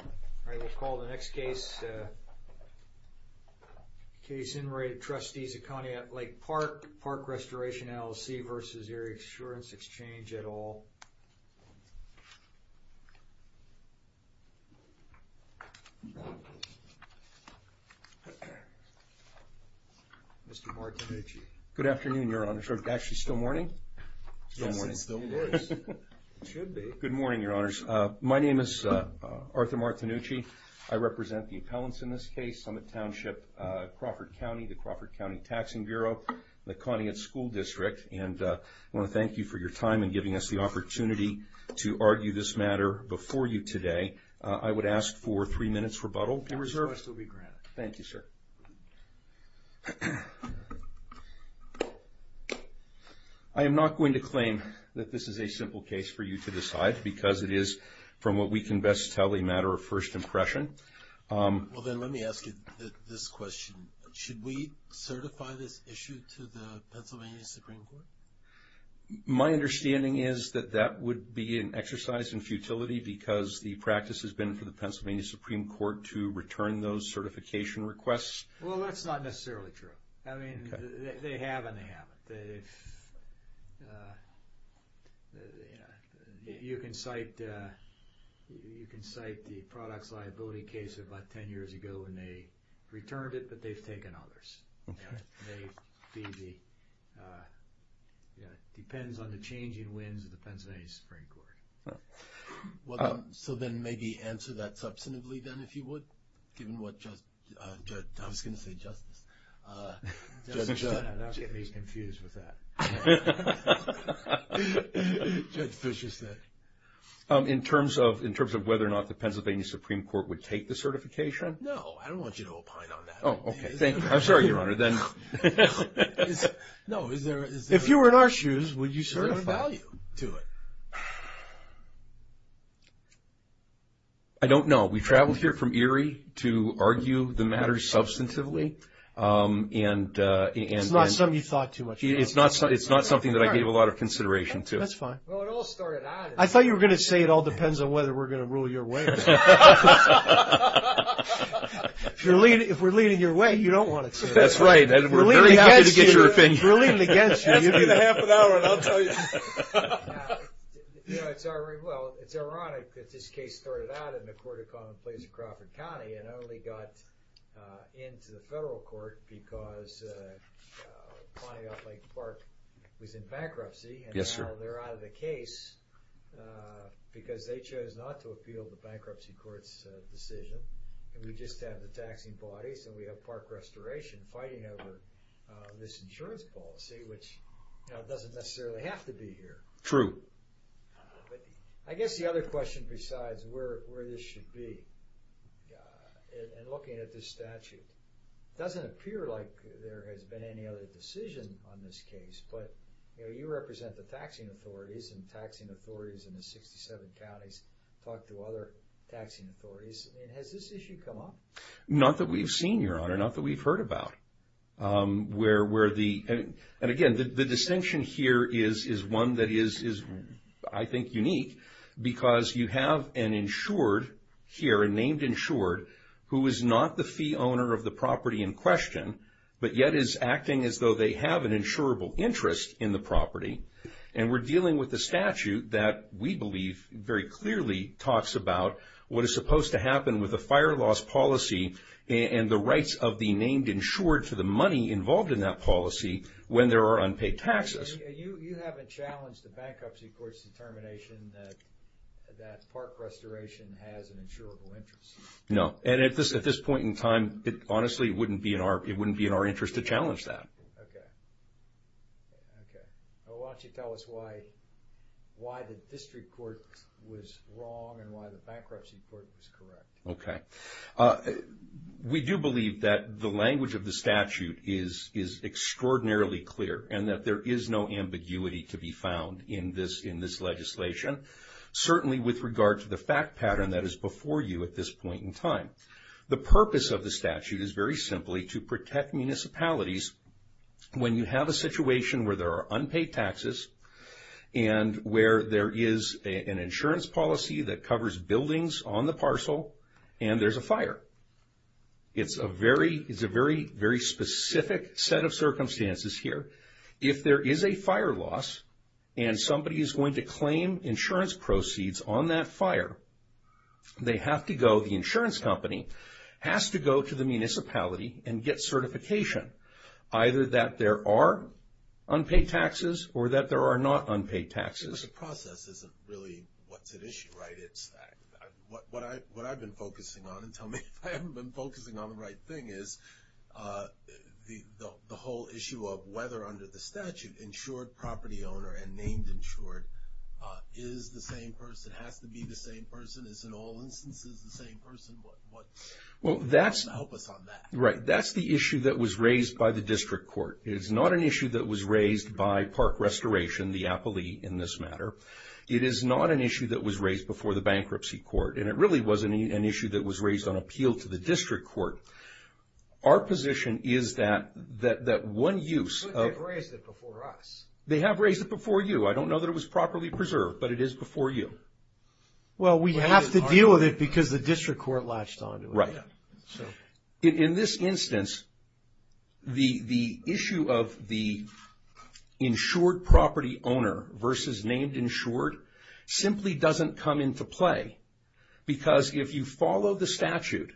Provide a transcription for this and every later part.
All right, we'll call the next case. Case In Re The Trustees of Conneaut Lake Park, Park Restoration LLC versus Erie Insurance Exchange et al. Mr. Martinez. Good afternoon, Your Honor. Actually, still morning? Yes, it still is. It should be. Good morning, Your Honors. My name is Arthur Martinucci. I represent the appellants in this case. I'm at Township Crawford County, the Crawford County Taxing Bureau, the Conneaut School District, and I want to thank you for your time in giving us the opportunity to argue this matter before you today. I would ask for three minutes rebuttal. Thank you, sir. I am not going to claim that this is a simple case for you to decide because it is, from what we can best tell, a matter of first impression. Well, then let me ask you this question. Should we certify this issue to the Pennsylvania Supreme Court? My understanding is that that would be an exercise in futility because the practice has been for the Pennsylvania Supreme Court to return those certification requests. Well, that's not necessarily true. I mean, they have and they haven't. You can cite the products liability case about 10 years ago and they returned it, but they've taken others. It depends on the changing winds of the Pennsylvania Supreme Court. Well, so then maybe answer that substantively then, if you would, given what Judge... I was going to say Justice. Judge Fisher said. In terms of whether or not the Pennsylvania Supreme Court would take the certification? No, I don't want you to opine on that. Oh, okay. I'm going to say it. If you were in our shoes, would you certify? I don't know. We traveled here from Erie to argue the matter substantively. It's not something you thought too much about. It's not something that I gave a lot of consideration to. That's fine. I thought you were going to say it all depends on whether we're going to rule your way. If we're leading your way, you don't want to. That's right, and we're very happy to get your opinion. If we're leading against you, you do. Ask in the half an hour and I'll tell you. Well, it's ironic that this case started out in the Court of Common Pleas of Crawford County and only got into the federal court because Pontiac Lake Park was in bankruptcy. Yes, sir. And now they're out of the case because they chose not to appeal the bankruptcy court's decision. And we just have the taxing bodies and we have park restoration fighting over this insurance policy, which doesn't necessarily have to be here. True. I guess the other question besides where this should be, and looking at this statute, doesn't appear like there has been any other decision on this case, but you represent the taxing authorities and taxing authorities in the 67 counties talk to other taxing authorities. Has this issue come up? Not that we've seen, Your Honor, not that we've heard about. And again, the distinction here is one that is, I think, unique because you have an insured here, a named insured, who is not the fee owner of the property in question, but yet is acting as though they have an insurable interest in the property. And we're dealing with the statute that we believe very clearly talks about what is supposed to happen with a fire loss policy and the rights of the named insured for the money involved in that policy when there are unpaid taxes. You haven't challenged the bankruptcy court's determination that park restoration has an insurable interest. No. And at this point in time, it honestly wouldn't be in our interest to know why this was wrong and why the bankruptcy court was correct. Okay. We do believe that the language of the statute is extraordinarily clear and that there is no ambiguity to be found in this legislation. Certainly with regard to the fact pattern that is before you at this point in time. The purpose of the statute is very simply to protect municipalities when you have a situation where there are unpaid taxes and where there is an insurance policy that covers buildings on the parcel and there's a fire. It's a very, very specific set of circumstances here. If there is a fire loss and somebody is going to claim insurance proceeds on that fire, they have to go, the insurance company has to go to the municipality and get certification either that there are unpaid taxes or that there are not unpaid taxes. The process isn't really what's at issue, right? What I've been focusing on, and tell me if I haven't been focusing on the right thing, is the whole issue of whether under the statute, insured property owner and named insured is the same person, has to be the same person. Help us on that. That's the issue that was raised by the district court. It's not an issue that was raised by Park Restoration, the appellee in this matter. It is not an issue that was raised before the bankruptcy court and it really wasn't an issue that was raised on appeal to the district court. Our position is that one use... But they've raised it before us. They have raised it before you. I don't know that it was properly preserved, but it is before you. Well, we have to deal with it because the district court latched onto it. Right. In this instance, the issue of the insured property owner versus named insured simply doesn't come into play because if you follow the statute,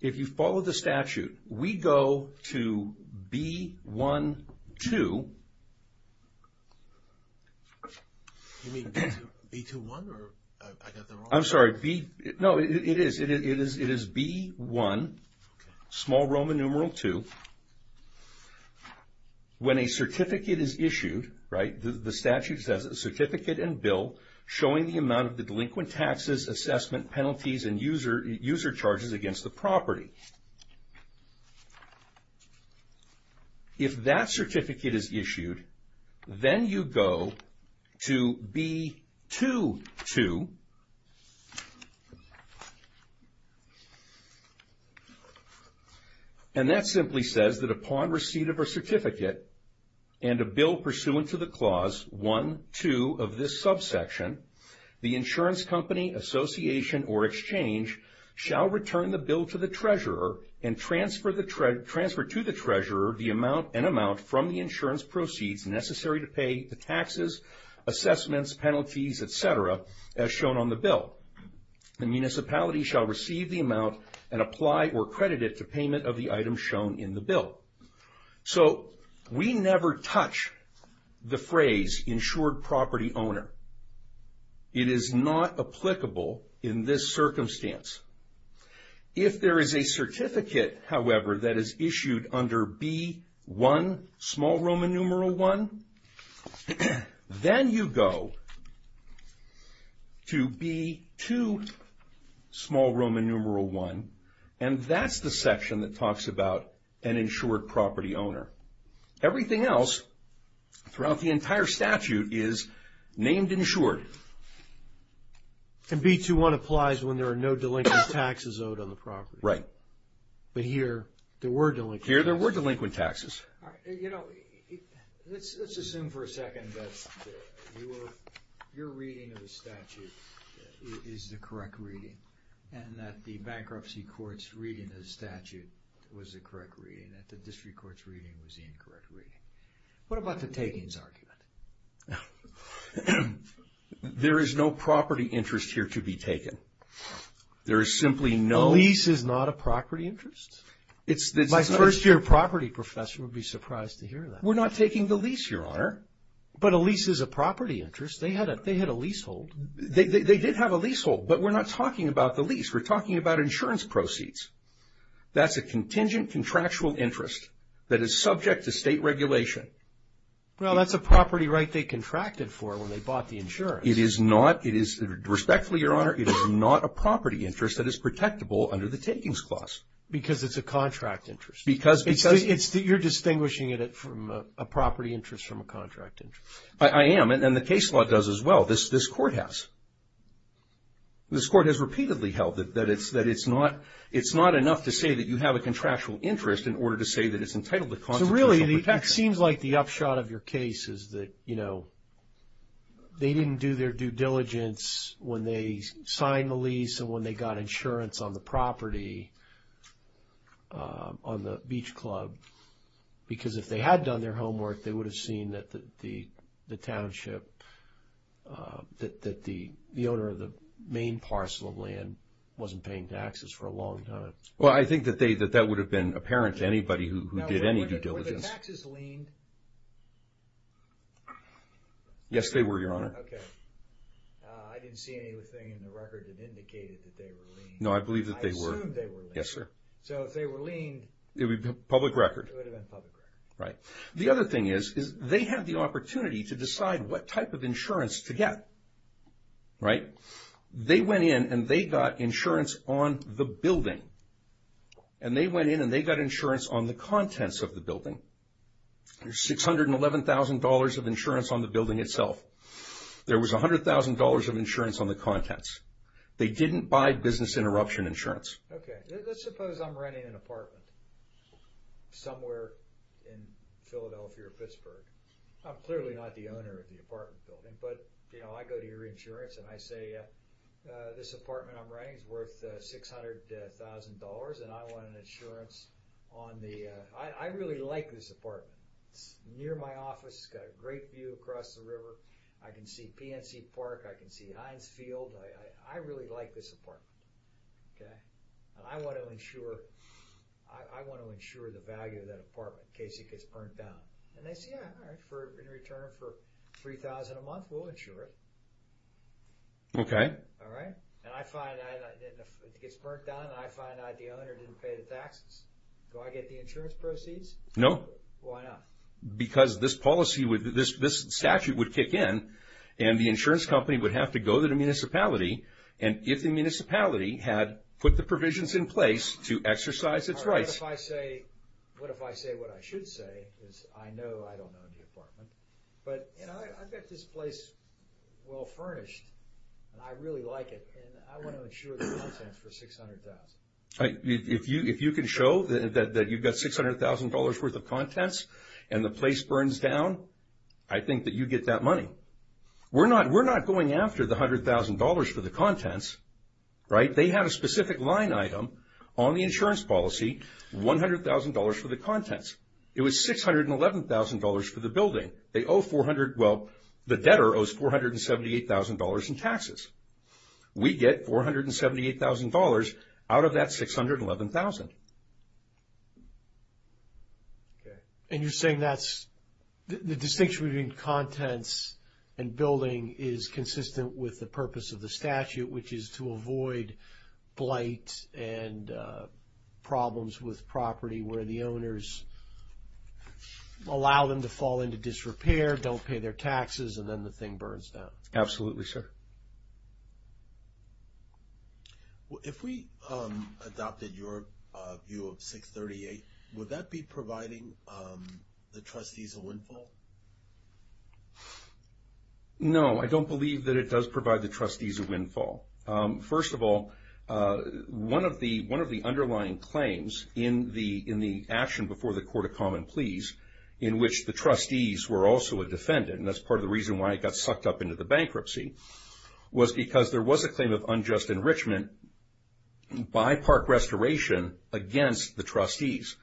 if you follow the statute, we go to B-1-2. You mean B-2-1 or I got that wrong? I'm sorry. No, it is. It is B-1, small Roman numeral 2. When a certificate is issued, right, the delinquent taxes, assessment, penalties and user charges against the property. If that certificate is issued, then you go to B-2-2 and that simply says that upon receipt of a certificate and a bill pursuant to the clause 1-2 of this subsection, the insurance company, association or exchange shall return the bill to the treasurer and transfer to the treasurer the amount and amount from the insurance proceeds necessary to pay the taxes, assessments, penalties, etc. as shown on the bill. The municipality shall receive the amount and apply or credit it to payment of the item shown in the bill. So we never touch the phrase insured property owner. It is not applicable in this circumstance. If there is a certificate, however, that is issued under B-1, small Roman numeral 1, then you go to B-2, small Roman numeral 1 and that's the section that talks about an insured property owner. Everything else throughout the entire statute is named insured. And B-2-1 applies when there are no delinquent taxes owed on the property. Right. But here there were delinquent taxes. Here there were delinquent taxes. You know, let's assume for a second that your reading of the statute is the correct reading and that the bankruptcy court's reading of the statute was the correct reading, that the district court's reading was the incorrect reading. What about the takings argument? There is no property interest here to be taken. There is simply no... The lease is not a property interest? My first year property professor would be surprised to hear that. We're not taking the lease, Your Honor. But a lease is a property interest. They had a leasehold. They did have a leasehold, but we're not talking about the lease. We're talking about insurance proceeds. That's a contingent contractual interest that is subject to state regulation. Well, that's a property right they contracted for when they bought the insurance. It is not. Respectfully, Your Honor, it is not a property interest that is protectable under the takings clause. Because it's a contract interest. Because... You're distinguishing it from a property interest from a contract interest. I am, and the case law does as well. This court has. This court has repeatedly held that it's not enough to say that you have a contractual interest in order to say that it's entitled to constitutional protection. So really, it seems like the upshot of your case is that, you know, they didn't do their due diligence when they signed the property on the beach club. Because if they had done their homework, they would have seen that the township, that the owner of the main parcel of land wasn't paying taxes for a long time. Well, I think that that would have been apparent to anybody who did any due diligence. Were the taxes leaned? Yes, they were, Your Honor. Okay. I didn't see anything in the record that indicated that they were leaned. No, I believe that they were. I assumed they were leaned. Yes, sir. So if they were leaned... It would be public record. It would have been public record. Right. The other thing is, is they have the opportunity to decide what type of insurance to get. Right? They went in and they got insurance on the building. And they went in and they got insurance on the contents of the building. There's $611,000 of insurance on the building itself. There was $100,000 of insurance on the contents. They didn't buy business interruption insurance. Okay. Let's suppose I'm renting an apartment somewhere in Philadelphia or Pittsburgh. I'm clearly not the owner of the apartment building. But, you know, I go to your insurance and I say this apartment I'm renting is worth $600,000 and I want an insurance on the... I really like this apartment. It's near my office. It's got a great view across the river. I can see PNC Park. I can see Heinz Field. I really like this apartment. Okay? And I want to insure... I want to insure the value of that apartment in case it gets burnt down. And they say, yeah, all right, in return for $3,000 a month we'll insure it. Okay. All right? And I find it gets burnt down and I find out the owner didn't pay the taxes. Do I get the insurance proceeds? No. Why not? Because this policy, this statute would kick in and the insurance company would have to go to the municipality and if the municipality had put the provisions in place to exercise its rights... All right. What if I say what I should say? Because I know I don't own the apartment. But, you know, I've got this place well furnished and I really like it and I want to insure the contents for $600,000. If you can show that you've got $600,000 worth of contents and the place burns down, I think that you get that money. We're not going after the $100,000 for the contents. Right? They have a specific line item on the insurance policy, $100,000 for the contents. It was $611,000 for the building. They owe 400, well, the debtor owes $478,000 in taxes. We get $478,000 out of that $611,000. Okay. And you're saying that's the distinction between contents and building is consistent with the purpose of the statute, which is to avoid blight and problems with property where the owners allow them to fall into disrepair, don't pay their taxes, Absolutely, sir. If we adopted your view of 638, would that be providing the trustees a windfall? No. I don't believe that it does provide the trustees a windfall. First of all, one of the underlying claims in the action before the Court of Common Pleas in which the trustees were also a defendant, and that's part of the reason why it got sucked up into the bankruptcy, was because there was a claim of unjust enrichment by Park Restoration against the trustees.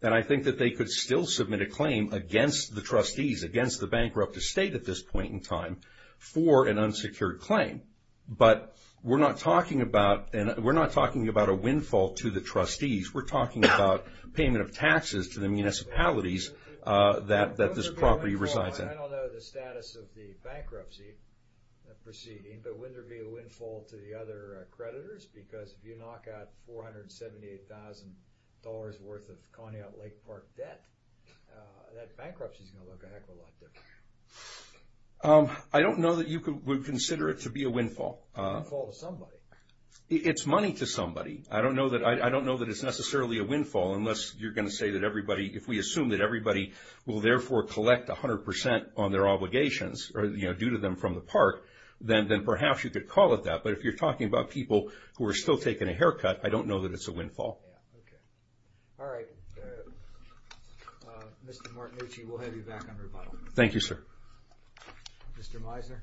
And I think that they could still submit a claim against the trustees, against the bankrupt estate at this point in time, for an unsecured claim. But we're not talking about a windfall to the trustees. We're talking about payment of taxes to the municipalities that this property resides in. I don't know the status of the bankruptcy proceeding, but would there be a windfall to the other creditors? Because if you knock out $478,000 worth of Coney Island Lake Park debt, that bankruptcy is going to look a heck of a lot different. I don't know that you would consider it to be a windfall. A windfall to somebody. It's money to somebody. I don't know that it's necessarily a windfall, unless you're going to say that everybody, if we assume that everybody will therefore collect 100% on their obligations due to them from the park, then perhaps you could call it that. But if you're talking about people who are still taking a haircut, I don't know that it's a windfall. All right. Mr. Martinucci, we'll have you back on rebuttal. Thank you, sir. Mr. Meisner.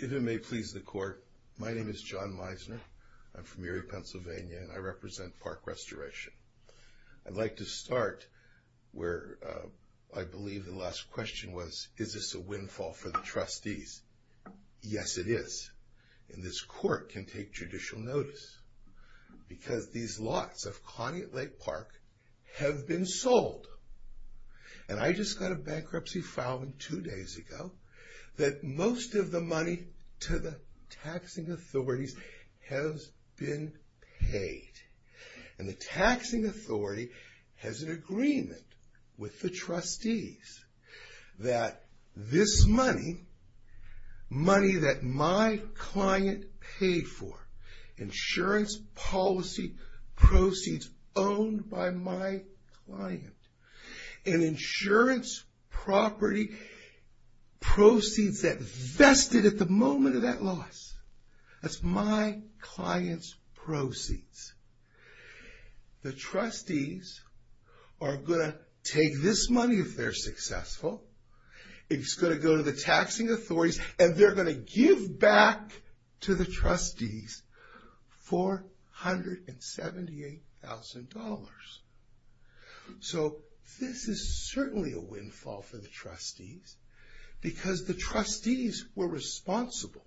If it may please the court, my name is John Meisner. I'm from Erie, Pennsylvania, and I represent Park Restoration. I'd like to start where I believe the last question was, is this a windfall for the trustees? Yes, it is. And this court can take judicial notice. Because these lots of Cognate Lake Park have been sold. And I just got a bankruptcy filing two days ago that most of the money to the taxing authorities has been paid. And the taxing authority has an agreement with the trustees that this money, money that my client paid for, insurance policy proceeds owned by my client, and insurance property proceeds that vested at the moment of that loss, that's my client's proceeds. The trustees are going to take this money if they're successful. It's going to go to the taxing authorities, and they're going to give back to the trustees $478,000. So this is certainly a windfall for the trustees. Because the trustees were responsible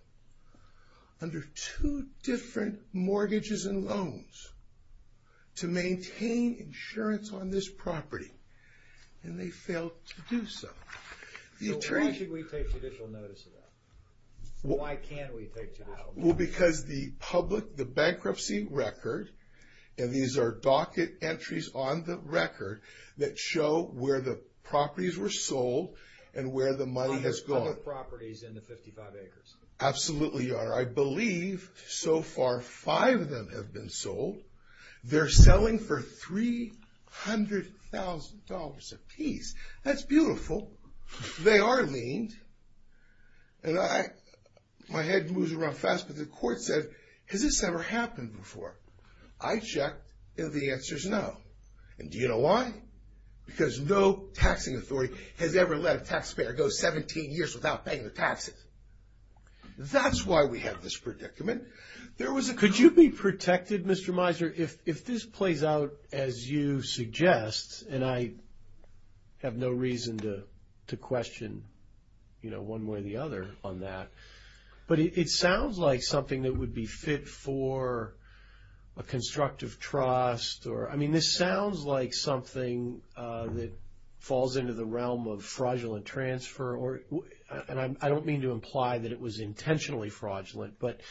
under two different mortgages and loans to maintain insurance on this property. And they failed to do so. So why should we take judicial notice of that? Why can't we take judicial notice? Well, because the public, the bankruptcy record, and these are docket entries on the record that show where the properties were sold and where the money has gone. Under other properties in the 55 acres. Absolutely, Your Honor. I believe so far five of them have been sold. They're selling for $300,000 apiece. That's beautiful. They are leaned. And my head moves around fast, but the court said, has this ever happened before? I checked, and the answer is no. And do you know why? Because no taxing authority has ever let a taxpayer go 17 years without paying the taxes. That's why we have this predicament. Could you be protected, Mr. Miser, if this plays out as you suggest, and I have no reason to question one way or the other on that, but it sounds like something that would be fit for a constructive trust. I mean, this sounds like something that falls into the realm of fraudulent transfer, and I don't mean to imply that it was intentionally fraudulent, but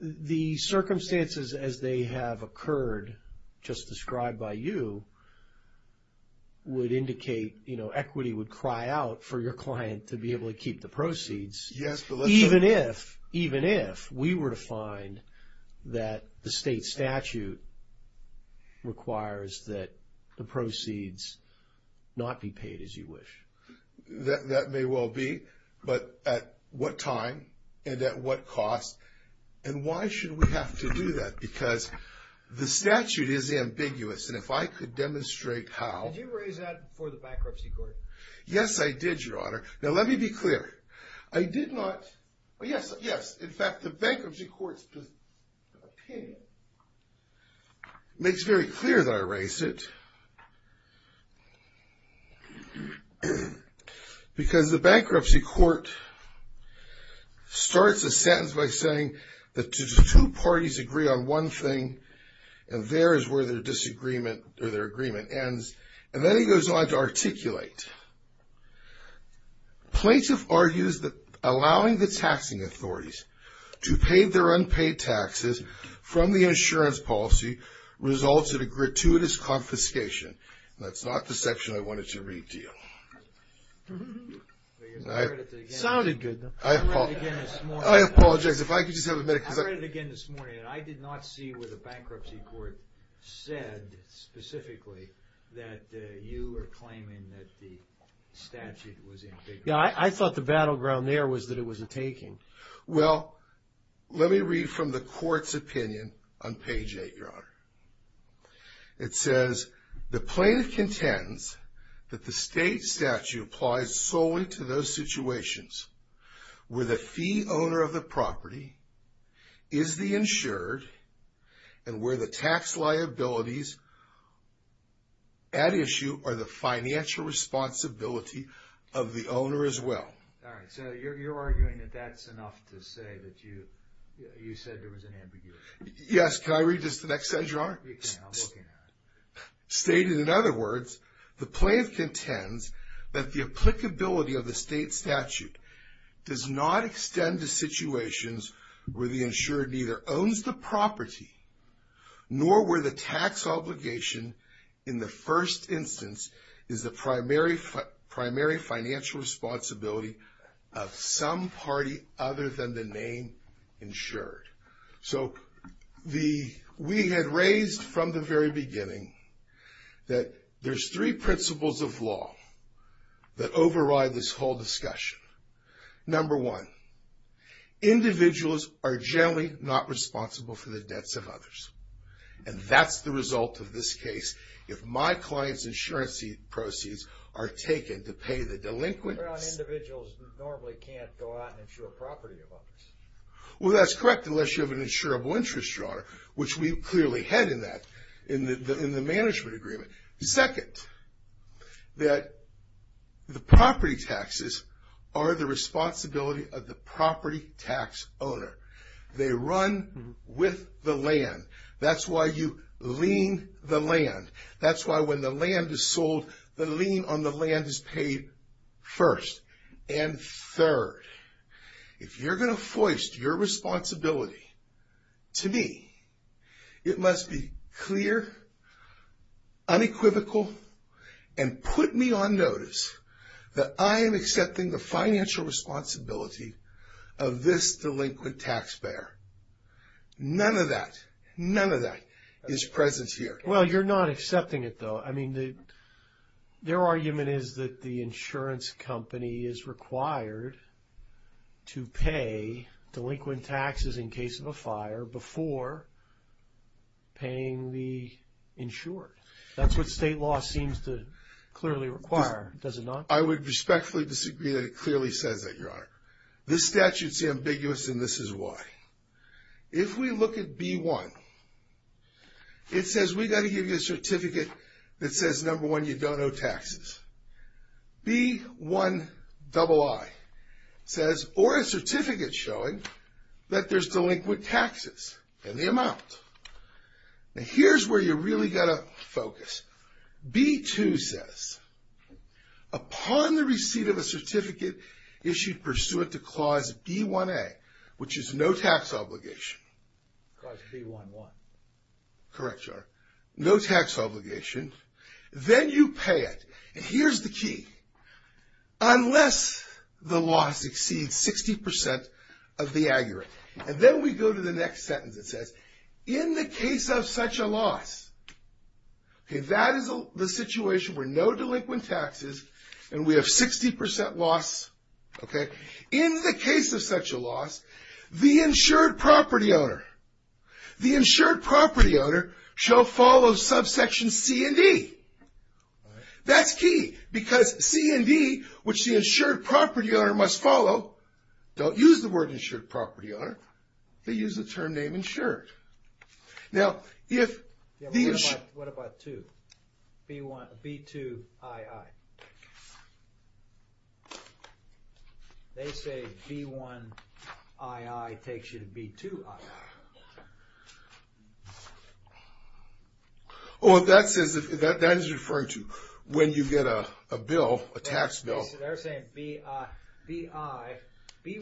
the circumstances as they have occurred, just described by you, would indicate equity would cry out for your client to be able to keep the proceeds, even if we were to find that the state statute requires that the proceeds not be paid as you wish. That may well be, but at what time and at what cost? And why should we have to do that? Because the statute is ambiguous, and if I could demonstrate how. Did you raise that before the bankruptcy court? Yes, I did, Your Honor. Now, let me be clear. I did not. Yes, in fact, the bankruptcy court's opinion makes very clear that I raised it, because the bankruptcy court starts a sentence by saying that two parties agree on one thing, and there is where their disagreement or their agreement ends, and then he goes on to articulate. Plaintiff argues that allowing the taxing authorities to pay their unpaid taxes from the insurance policy results in a gratuitous confiscation. That's not the section I wanted to redeal. It sounded good, though. I apologize. If I could just have a minute. I read it again this morning, and I did not see where the bankruptcy court said specifically that you were claiming that the statute was ambiguous. Yeah, I thought the battleground there was that it wasn't taken. Well, let me read from the court's opinion on page 8, Your Honor. It says, The plaintiff contends that the state statute applies solely to those situations where the fee owner of the property is the insured and where the tax liabilities at issue are the financial responsibility of the owner as well. All right. So you're arguing that that's enough to say that you said there was an ambiguity. Yes. Can I read just the next section, Your Honor? Stated, in other words, the plaintiff contends that the applicability of the state statute does not extend to situations where the insured neither owns the property nor where the tax obligation in the first instance is the primary financial responsibility of some party other than the name insured. So we had raised from the very beginning that there's three principles of law that override this whole discussion. Number one, individuals are generally not responsible for the debts of others. And that's the result of this case. If my client's insurance proceeds are taken to pay the delinquents... We're talking about individuals who normally can't go out and insure property of others. Well, that's correct unless you have an insurable interest, Your Honor, which we clearly had in the management agreement. Second, that the property taxes are the responsibility of the property tax owner. They run with the land. That's why you lien the land. That's why when the land is sold, the lien on the land is paid first and third. If you're going to foist your responsibility to me, it must be clear, unequivocal, and put me on notice that I am accepting the financial responsibility of this delinquent taxpayer. None of that, none of that is present here. Well, you're not accepting it, though. I mean, their argument is that the insurance company is required to pay delinquent taxes in case of a fire before paying the insured. That's what state law seems to clearly require. Does it not? I would respectfully disagree that it clearly says that, Your Honor. This statute's ambiguous, and this is why. If we look at B1, it says we've got to give you a certificate that says, number one, you don't owe taxes. B1II says, or a certificate showing that there's delinquent taxes in the amount. Now, here's where you really got to focus. B2 says, upon the receipt of a certificate issued pursuant to Clause B1A, which is no tax obligation. Clause B1I. Correct, Your Honor. No tax obligation. Then you pay it. And here's the key. Unless the loss exceeds 60% of the aggregate. And then we go to the next sentence. It says, in the case of such a loss. Okay, that is the situation where no delinquent taxes, and we have 60% loss. Okay. In the case of such a loss, the insured property owner. The insured property owner shall follow subsection C and D. That's key, because C and D, which the insured property owner must follow. Don't use the word insured property owner. They use the term name insured. Now, if the insured. What about 2? B2II. They say B1II takes you to B2II. Oh, that is referring to when you get a bill, a tax bill. They're saying B1II. They're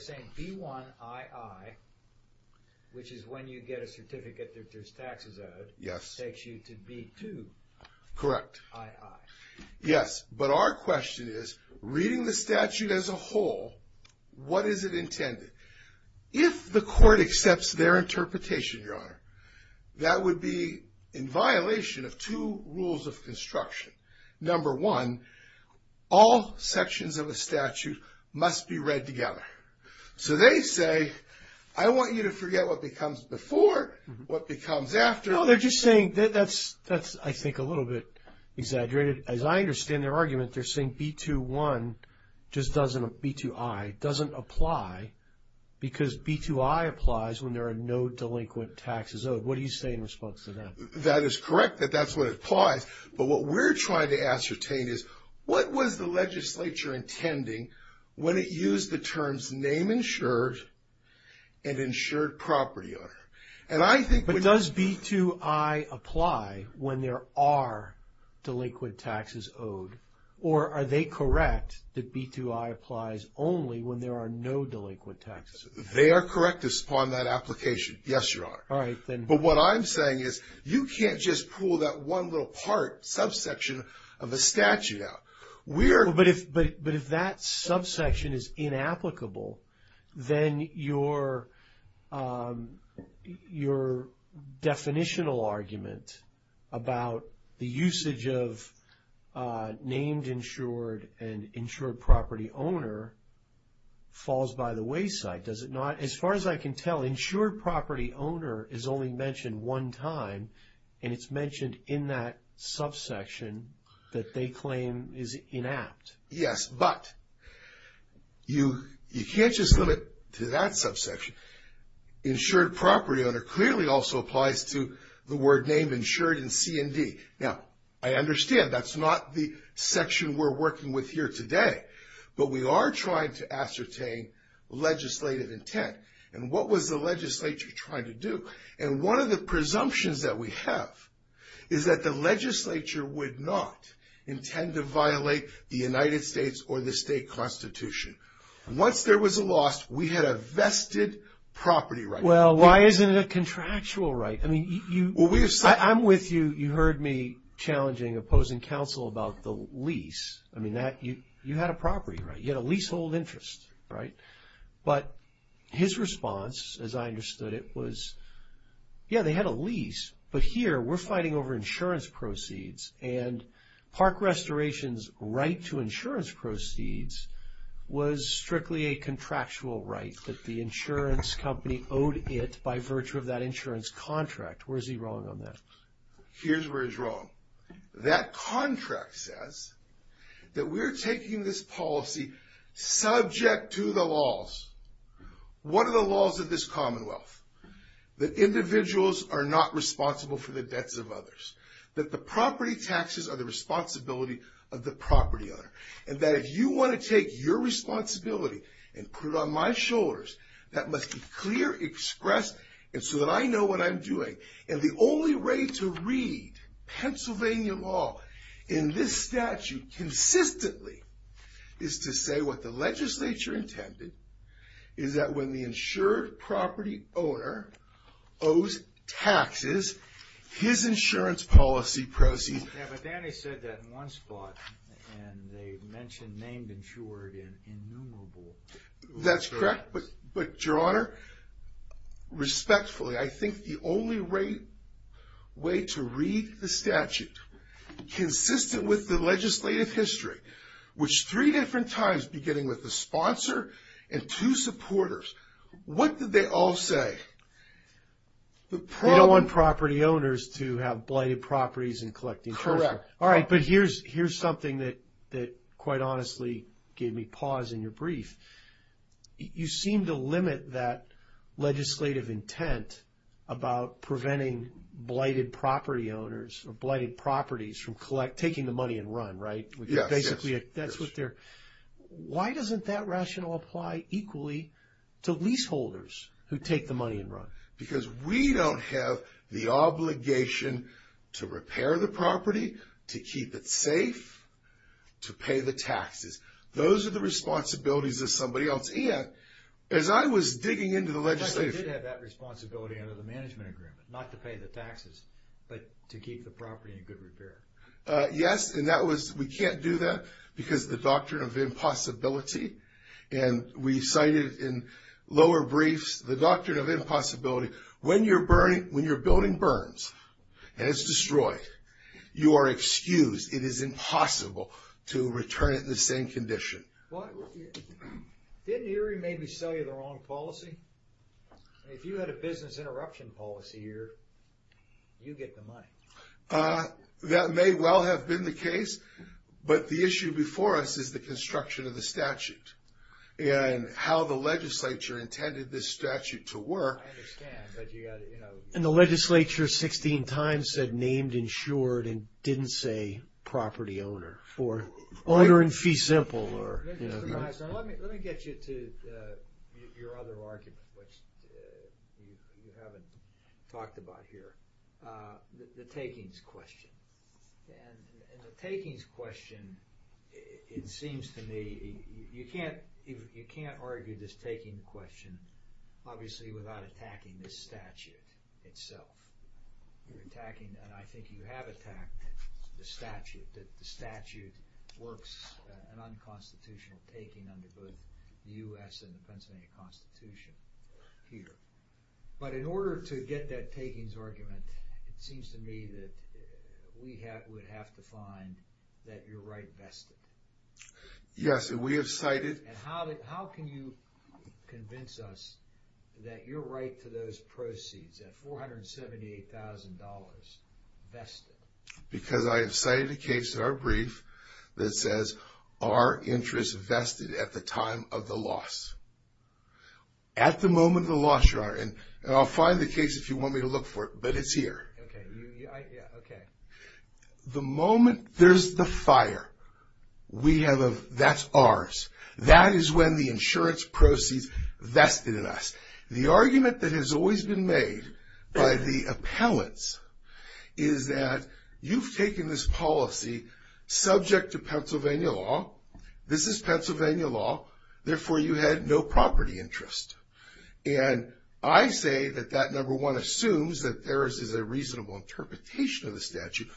saying B1II, which is when you get a certificate that there's taxes owed. Yes. Takes you to B2II. Correct. Yes, but our question is, reading the statute as a whole, what is it intended? If the court accepts their interpretation, Your Honor. That would be in violation of two rules of construction. Number one, all sections of a statute must be read together. So, they say, I want you to forget what becomes before, what becomes after. No, they're just saying, that's I think a little bit exaggerated. As I understand their argument, they're saying B2II doesn't apply, because B2II applies when there are no delinquent taxes owed. What do you say in response to that? That is correct, that that's what applies. But what we're trying to ascertain is, what was the legislature intending when it used the terms name insured and insured property, Your Honor? But does B2II apply when there are delinquent taxes owed, or are they correct that B2II applies only when there are no delinquent taxes? They are correct upon that application, yes, Your Honor. All right, then. But what I'm saying is, you can't just pull that one little part, subsection of a statute out. But if that subsection is inapplicable, then your definitional argument about the usage of named insured and insured property owner falls by the wayside, does it not? As far as I can tell, insured property owner is only mentioned one time, and it's mentioned in that subsection that they claim is inapt. Yes, but you can't just limit to that subsection. Insured property owner clearly also applies to the word named insured in C&D. Now, I understand that's not the section we're working with here today, but we are trying to ascertain legislative intent. And what was the legislature trying to do? And one of the presumptions that we have is that the legislature would not intend to violate the United States or the state constitution. Once there was a loss, we had a vested property right. Well, why isn't it a contractual right? I mean, I'm with you. You heard me challenging opposing counsel about the lease. I mean, you had a property right. You had a leasehold interest, right? But his response, as I understood it, was, yeah, they had a lease, but here we're fighting over insurance proceeds. And Park Restoration's right to insurance proceeds was strictly a contractual right that the insurance company owed it by virtue of that insurance contract. Where is he wrong on that? Here's where he's wrong. That contract says that we're taking this policy subject to the laws. What are the laws of this commonwealth? That individuals are not responsible for the debts of others. That the property taxes are the responsibility of the property owner. And that if you want to take your responsibility and put it on my shoulders, that must be clear, expressed, and so that I know what I'm doing. And the only way to read Pennsylvania law in this statute consistently is to say what the legislature intended, is that when the insured property owner owes taxes, his insurance policy proceeds. Yeah, but Danny said that in one spot, and they mentioned named insured and innumerable. That's correct. But, Your Honor, respectfully, I think the only way to read the statute, consistent with the legislative history, which three different times beginning with the sponsor and two supporters, what did they all say? They don't want property owners to have blighted properties and collecting. Correct. All right, but here's something that quite honestly gave me pause in your brief. You seem to limit that legislative intent about preventing blighted property owners or blighted properties from taking the money and run, right? Yes. Basically, that's what they're... Why doesn't that rationale apply equally to leaseholders who take the money and run? Because we don't have the obligation to repair the property, to keep it safe, to pay the taxes. Those are the responsibilities of somebody else. And as I was digging into the legislation... The judge did have that responsibility under the management agreement, not to pay the taxes, but to keep the property in good repair. Yes, and we can't do that because of the doctrine of impossibility. And we cited in lower briefs the doctrine of impossibility. When you're building burns and it's destroyed, you are excused. It is impossible to return it in the same condition. Didn't Erie maybe sell you the wrong policy? If you had a business interruption policy here, you'd get the money. That may well have been the case, but the issue before us is the construction of the statute and how the legislature intended this statute to work. I understand, but you got to... And the legislature 16 times said named, insured, and didn't say property owner, or owner in fee simple. Mr. Meisner, let me get you to your other argument, which you haven't talked about here, the takings question. And the takings question, it seems to me, you can't argue this taking question, obviously, without attacking this statute itself. You're attacking, and I think you have attacked the statute, that the statute works an unconstitutional taking under both the U.S. and the Pennsylvania Constitution here. But in order to get that takings argument, it seems to me that we would have to find that you're right vested. Yes, and we have cited... And how can you convince us that you're right to those proceeds, that $478,000 vested? Because I have cited a case in our brief that says, our interest vested at the time of the loss. At the moment of the loss, Your Honor, and I'll find the case if you want me to look for it, but it's here. Okay. The moment there's the fire, that's ours. That is when the insurance proceeds vested in us. The argument that has always been made by the appellants is that you've taken this policy subject to Pennsylvania law. This is Pennsylvania law. Therefore, you had no property interest. And I say that that, number one, assumes that there is a reasonable interpretation of the statute.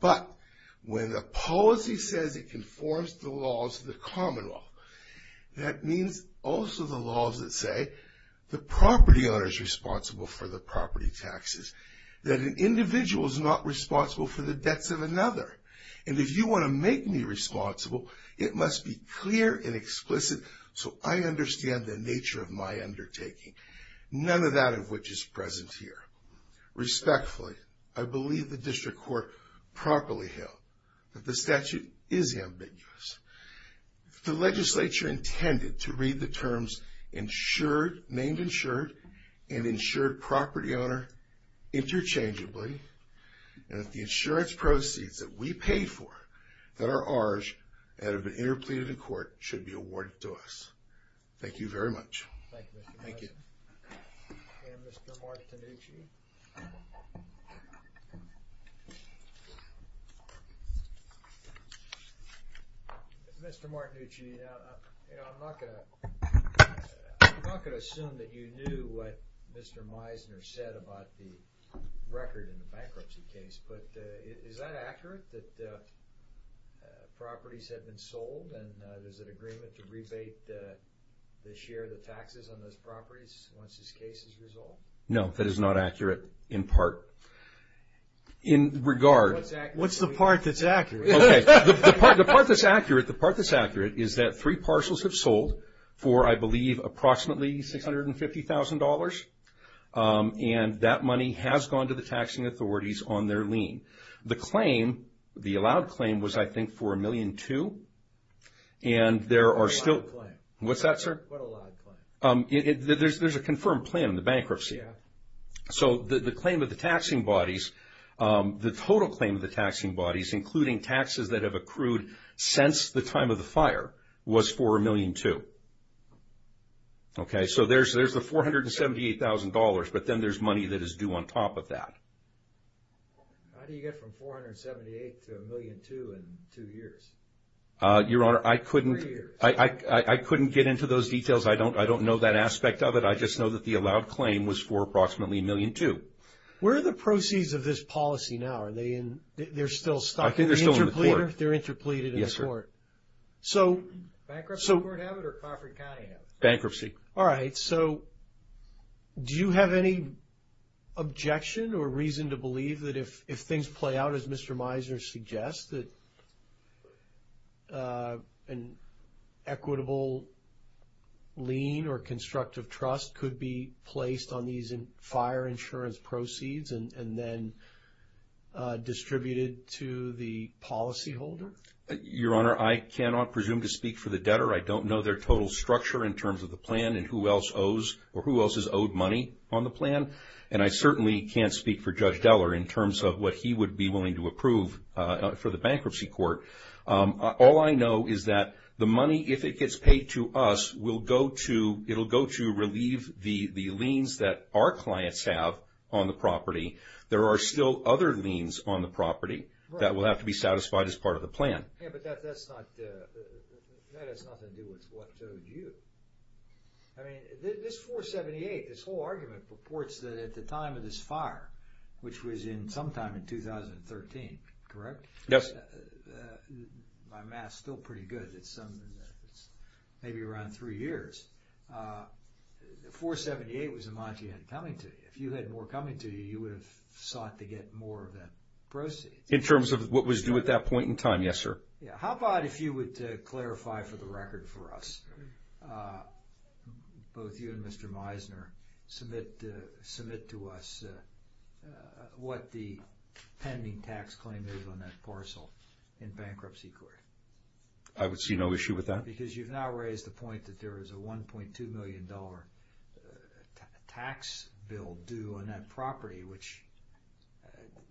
But when the policy says it conforms to the laws of the common law, that means also the laws that say the property owner is responsible for the property taxes, that an individual is not responsible for the debts of another. And if you want to make me responsible, it must be clear and explicit so I understand the nature of my undertaking, none of that of which is present here. Respectfully, I believe the district court properly held that the statute is ambiguous. The legislature intended to read the terms insured, named insured, and insured property owner interchangeably, and that the insurance proceeds that we pay for that are ours and have been interpleaded in court should be awarded to us. Thank you very much. Thank you. Thank you. And Mr. Martinucci? Mr. Martinucci, I'm not going to assume that you knew what Mr. Meisner said about the record in the bankruptcy case, but is that accurate, that properties have been sold and there's an agreement to rebate the share of the taxes on those properties once this case is resolved? No, that is not accurate in part. What's the part that's accurate? The part that's accurate is that three parcels have sold for, I believe, approximately $650,000, and that money has gone to the taxing authorities on their lien. The claim, the allowed claim, was, I think, for $1.2 million, and there are still... What's that, sir? There's a confirmed claim in the bankruptcy. So the claim of the taxing bodies, the total claim of the taxing bodies, including taxes that have accrued since the time of the fire, was for $1.2 million. Okay, so there's the $478,000, but then there's money that is due on top of that. How do you get from $478,000 to $1.2 million in two years? Your Honor, I couldn't get into those details. I don't know that aspect of it. I just know that the allowed claim was for approximately $1.2 million. Where are the proceeds of this policy now? Are they in... they're still stuck in the interpleader? I think they're still in the court. They're interpleaded in the court. Yes, sir. So... Bankruptcy Court have it or Crawford County have it? Bankruptcy. All right. So do you have any objection or reason to believe that if things play out, as Mr. Meisner suggests, that an equitable lien or constructive trust could be placed on these fire insurance proceeds and then distributed to the policyholder? Your Honor, I cannot presume to speak for the debtor. I don't know their total structure in terms of the plan and who else owes or who else is owed money on the plan. And I certainly can't speak for Judge Deller in terms of what he would be willing to approve for the Bankruptcy Court. All I know is that the money, if it gets paid to us, will go to relieve the liens that our clients have on the property. There are still other liens on the property that will have to be satisfied as part of the plan. Yeah, but that has nothing to do with what owed you. I mean, this 478, this whole argument, purports that at the time of this fire, which was sometime in 2013, correct? Yes. My math's still pretty good. It's maybe around three years. The 478 was the amount you had coming to you. If you had more coming to you, you would have sought to get more of that proceed. In terms of what was due at that point in time, yes, sir. How about if you would clarify for the record for us, both you and Mr. Meisner, submit to us what the pending tax claim is on that parcel in Bankruptcy Court? I would see no issue with that. Because you've now raised the point that there is a $1.2 million tax bill due on that property, which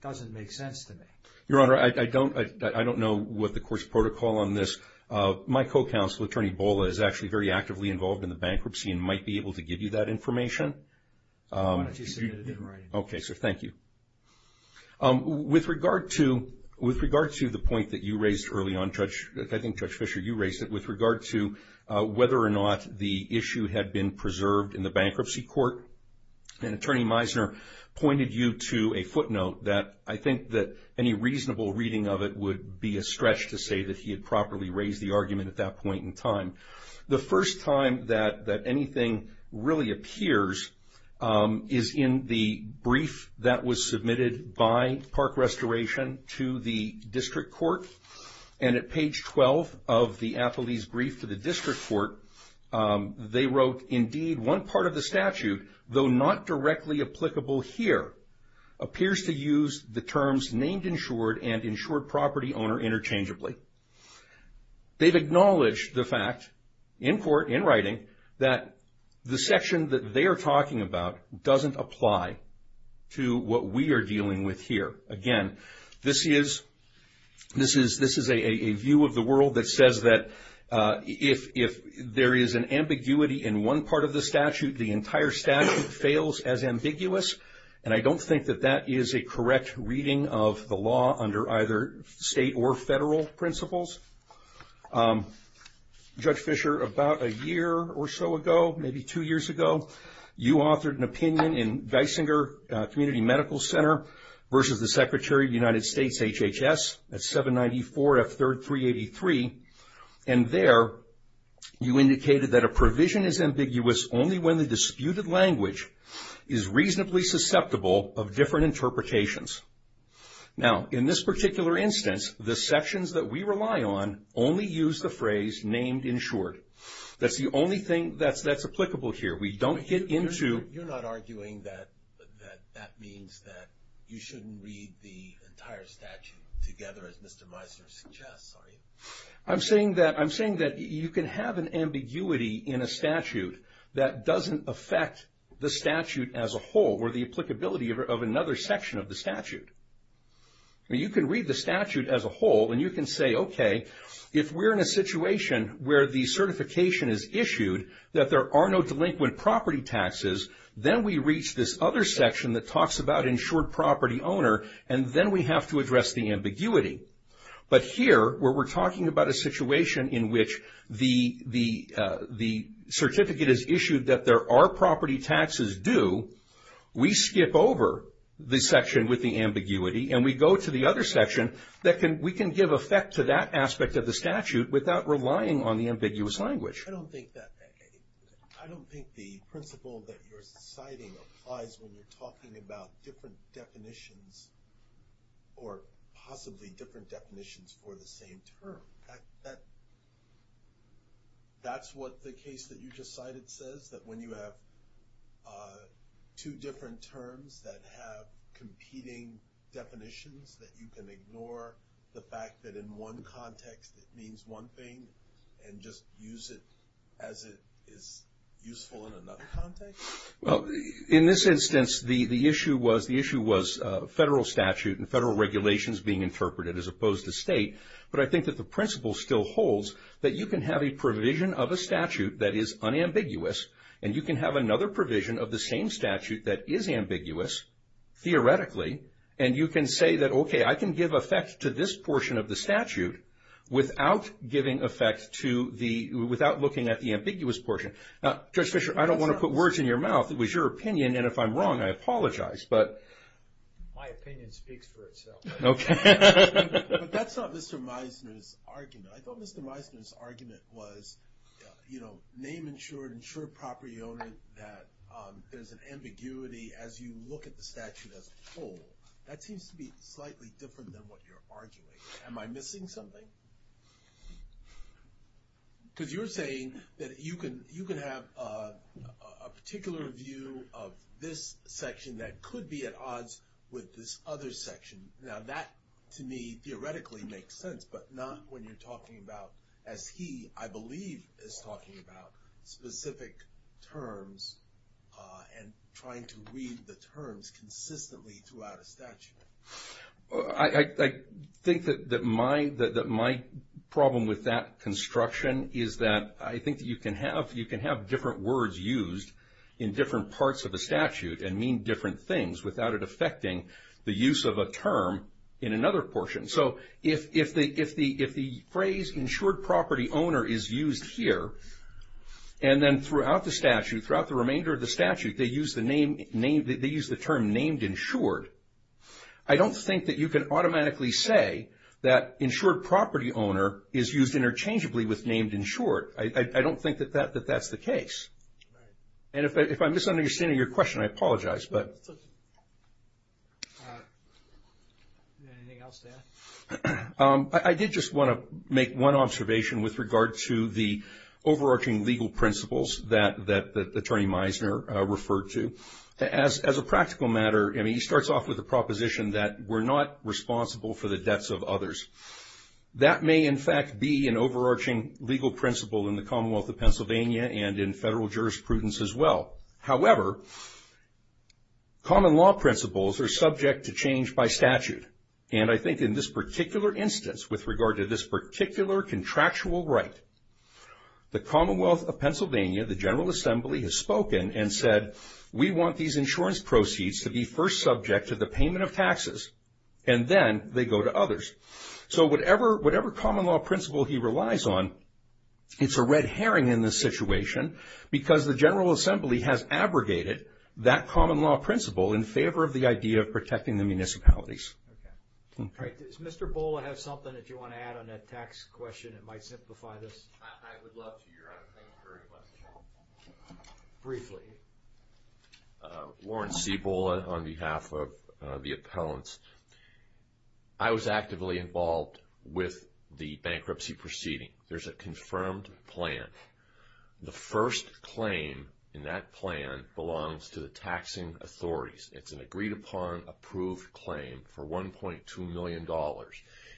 doesn't make sense to me. Your Honor, I don't know what the court's protocol on this. My co-counsel, Attorney Bola, is actually very actively involved in the bankruptcy and might be able to give you that information. Why don't you submit it in writing? Okay, sir. Thank you. With regard to the point that you raised early on, Judge, I think Judge Fisher, you raised it, with regard to whether or not the issue had been preserved in the Bankruptcy Court, and Attorney Meisner pointed you to a footnote that I think that any reasonable reading of it would be a stretch to say that he had properly raised the argument at that point in time. The first time that anything really appears is in the brief that was submitted by Park Restoration to the District Court. And at page 12 of the athlete's brief to the District Court, they wrote, They've acknowledged the fact, in court, in writing, that the section that they are talking about doesn't apply to what we are dealing with here. Again, this is a view of the world that says that if there is an ambiguity in one part of the statute, the entire statute fails as ambiguous, and I don't think that that is a correct reading of the law under either state or federal principles. Judge Fisher, about a year or so ago, maybe two years ago, you authored an opinion in Geisinger Community Medical Center versus the Secretary of the United States, HHS, at 794 F3383, and there you indicated that a provision is ambiguous only when the disputed language is reasonably susceptible of different interpretations. Now, in this particular instance, the sections that we rely on only use the phrase named in short. That's the only thing that's applicable here. We don't get into... You're not arguing that that means that you shouldn't read the entire statute together, as Mr. Meisner suggests, are you? I'm saying that you can have an ambiguity in a statute that doesn't affect the statute as a whole or the applicability of another section of the statute. You can read the statute as a whole and you can say, okay, if we're in a situation where the certification is issued that there are no delinquent property taxes, then we reach this other section and then we have to address the ambiguity. But here, where we're talking about a situation in which the certificate is issued that there are property taxes due, we skip over the section with the ambiguity and we go to the other section that we can give effect to that aspect of the statute without relying on the ambiguous language. I don't think that... I don't think the principle that you're citing applies when you're talking about different definitions or possibly different definitions for the same term. That's what the case that you just cited says, that when you have two different terms that have competing definitions that you can ignore the fact that in one context it means one thing and just use it as it is useful in another context? Well, in this instance, the issue was federal statute and federal regulations being interpreted as opposed to state, but I think that the principle still holds that you can have a provision of a statute that is unambiguous and you can have another provision of the same statute that is ambiguous, theoretically, and you can say that, okay, I can give effect to this portion of the statute without giving effect to the... without looking at the ambiguous portion. Now, Judge Fischer, I don't want to put words in your mouth. It was your opinion, and if I'm wrong, I apologize, but... My opinion speaks for itself. Okay. But that's not Mr. Meisner's argument. I thought Mr. Meisner's argument was, you know, name insured, insured property owner, that there's an ambiguity as you look at the statute as a whole. That seems to be slightly different than what you're arguing. Am I missing something? Because you're saying that you can have a particular view of this section that could be at odds with this other section. Now, that, to me, theoretically makes sense, but not when you're talking about, as he, I believe, is talking about specific terms and trying to read the terms consistently throughout a statute. I think that my problem with that construction is that I think that you can have different words used in different parts of a statute and mean different things without it affecting the use of a term in another portion. So if the phrase insured property owner is used here, and then throughout the statute, throughout the remainder of the statute, they use the term named insured, I don't think that you can automatically say that insured property owner is used interchangeably with named insured. I don't think that that's the case. And if I'm misunderstanding your question, I apologize, but... Anything else to add? I did just want to make one observation with regard to the overarching legal principles that Attorney Meisner referred to. As a practical matter, he starts off with the proposition that we're not responsible for the debts of others. That may, in fact, be an overarching legal principle in the Commonwealth of Pennsylvania and in federal jurisprudence as well. However, common law principles are subject to change by statute. And I think in this particular instance, with regard to this particular contractual right, the Commonwealth of Pennsylvania, the General Assembly, has spoken and said, we want these insurance proceeds to be first subject to the payment of taxes, and then they go to others. So whatever common law principle he relies on, it's a red herring in this situation because the General Assembly has abrogated that common law principle in favor of the idea of protecting the municipalities. Does Mr. Bola have something that you want to add on that tax question that might simplify this? I would love to, Your Honor. Thank you for requesting it. Briefly. Lawrence C. Bola on behalf of the appellants. I was actively involved with the bankruptcy proceeding. There's a confirmed plan. The first claim in that plan belongs to the taxing authorities. It's an agreed-upon approved claim for $1.2 million.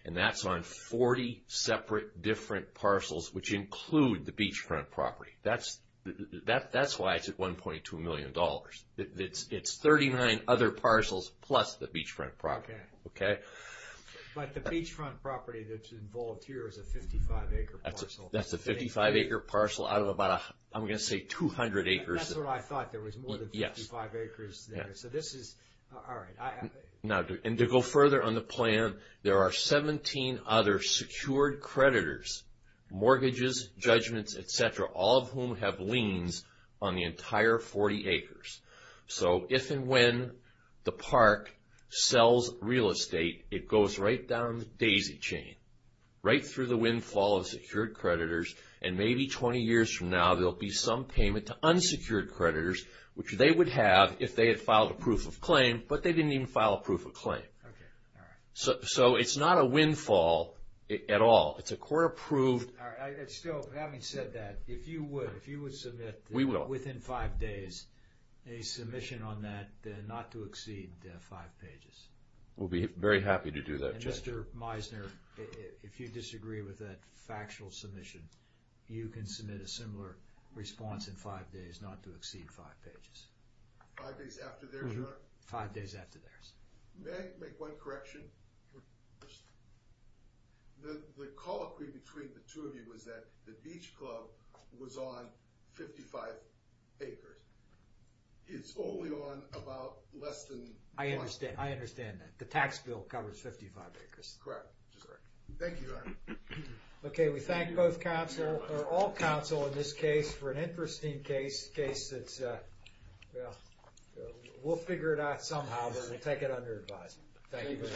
And that's on 40 separate different parcels, which include the beachfront property. That's why it's at $1.2 million. It's 39 other parcels plus the beachfront property. But the beachfront property that's involved here is a 55-acre parcel. That's a 55-acre parcel out of about, I'm going to say, 200 acres. That's what I thought. There was more than 55 acres there. All right. And to go further on the plan, there are 17 other secured creditors, mortgages, judgments, et cetera, all of whom have liens on the entire 40 acres. So if and when the park sells real estate, it goes right down the daisy chain, right through the windfall of secured creditors. And maybe 20 years from now, there will be some payment to unsecured creditors, which they would have if they had filed a proof of claim, but they didn't even file a proof of claim. Okay. All right. So it's not a windfall at all. It's a court-approved... All right. Still, having said that, if you would, if you would submit... We will. ...within five days, a submission on that not to exceed five pages. We'll be very happy to do that, Judge. And Mr. Meisner, if you disagree with that factual submission, you can submit a similar response in five days not to exceed five pages. Five days after theirs, Your Honor? Five days after theirs. May I make one correction? The call between the two of you was that the beach club was on 55 acres. It's only on about less than... I understand. I understand that. Correct. Just correct. Thank you, Your Honor. Okay. We thank both counsel, or all counsel in this case, for an interesting case, a case that's, well, we'll figure it out somehow, but we'll take it under advisement. Thank you very much.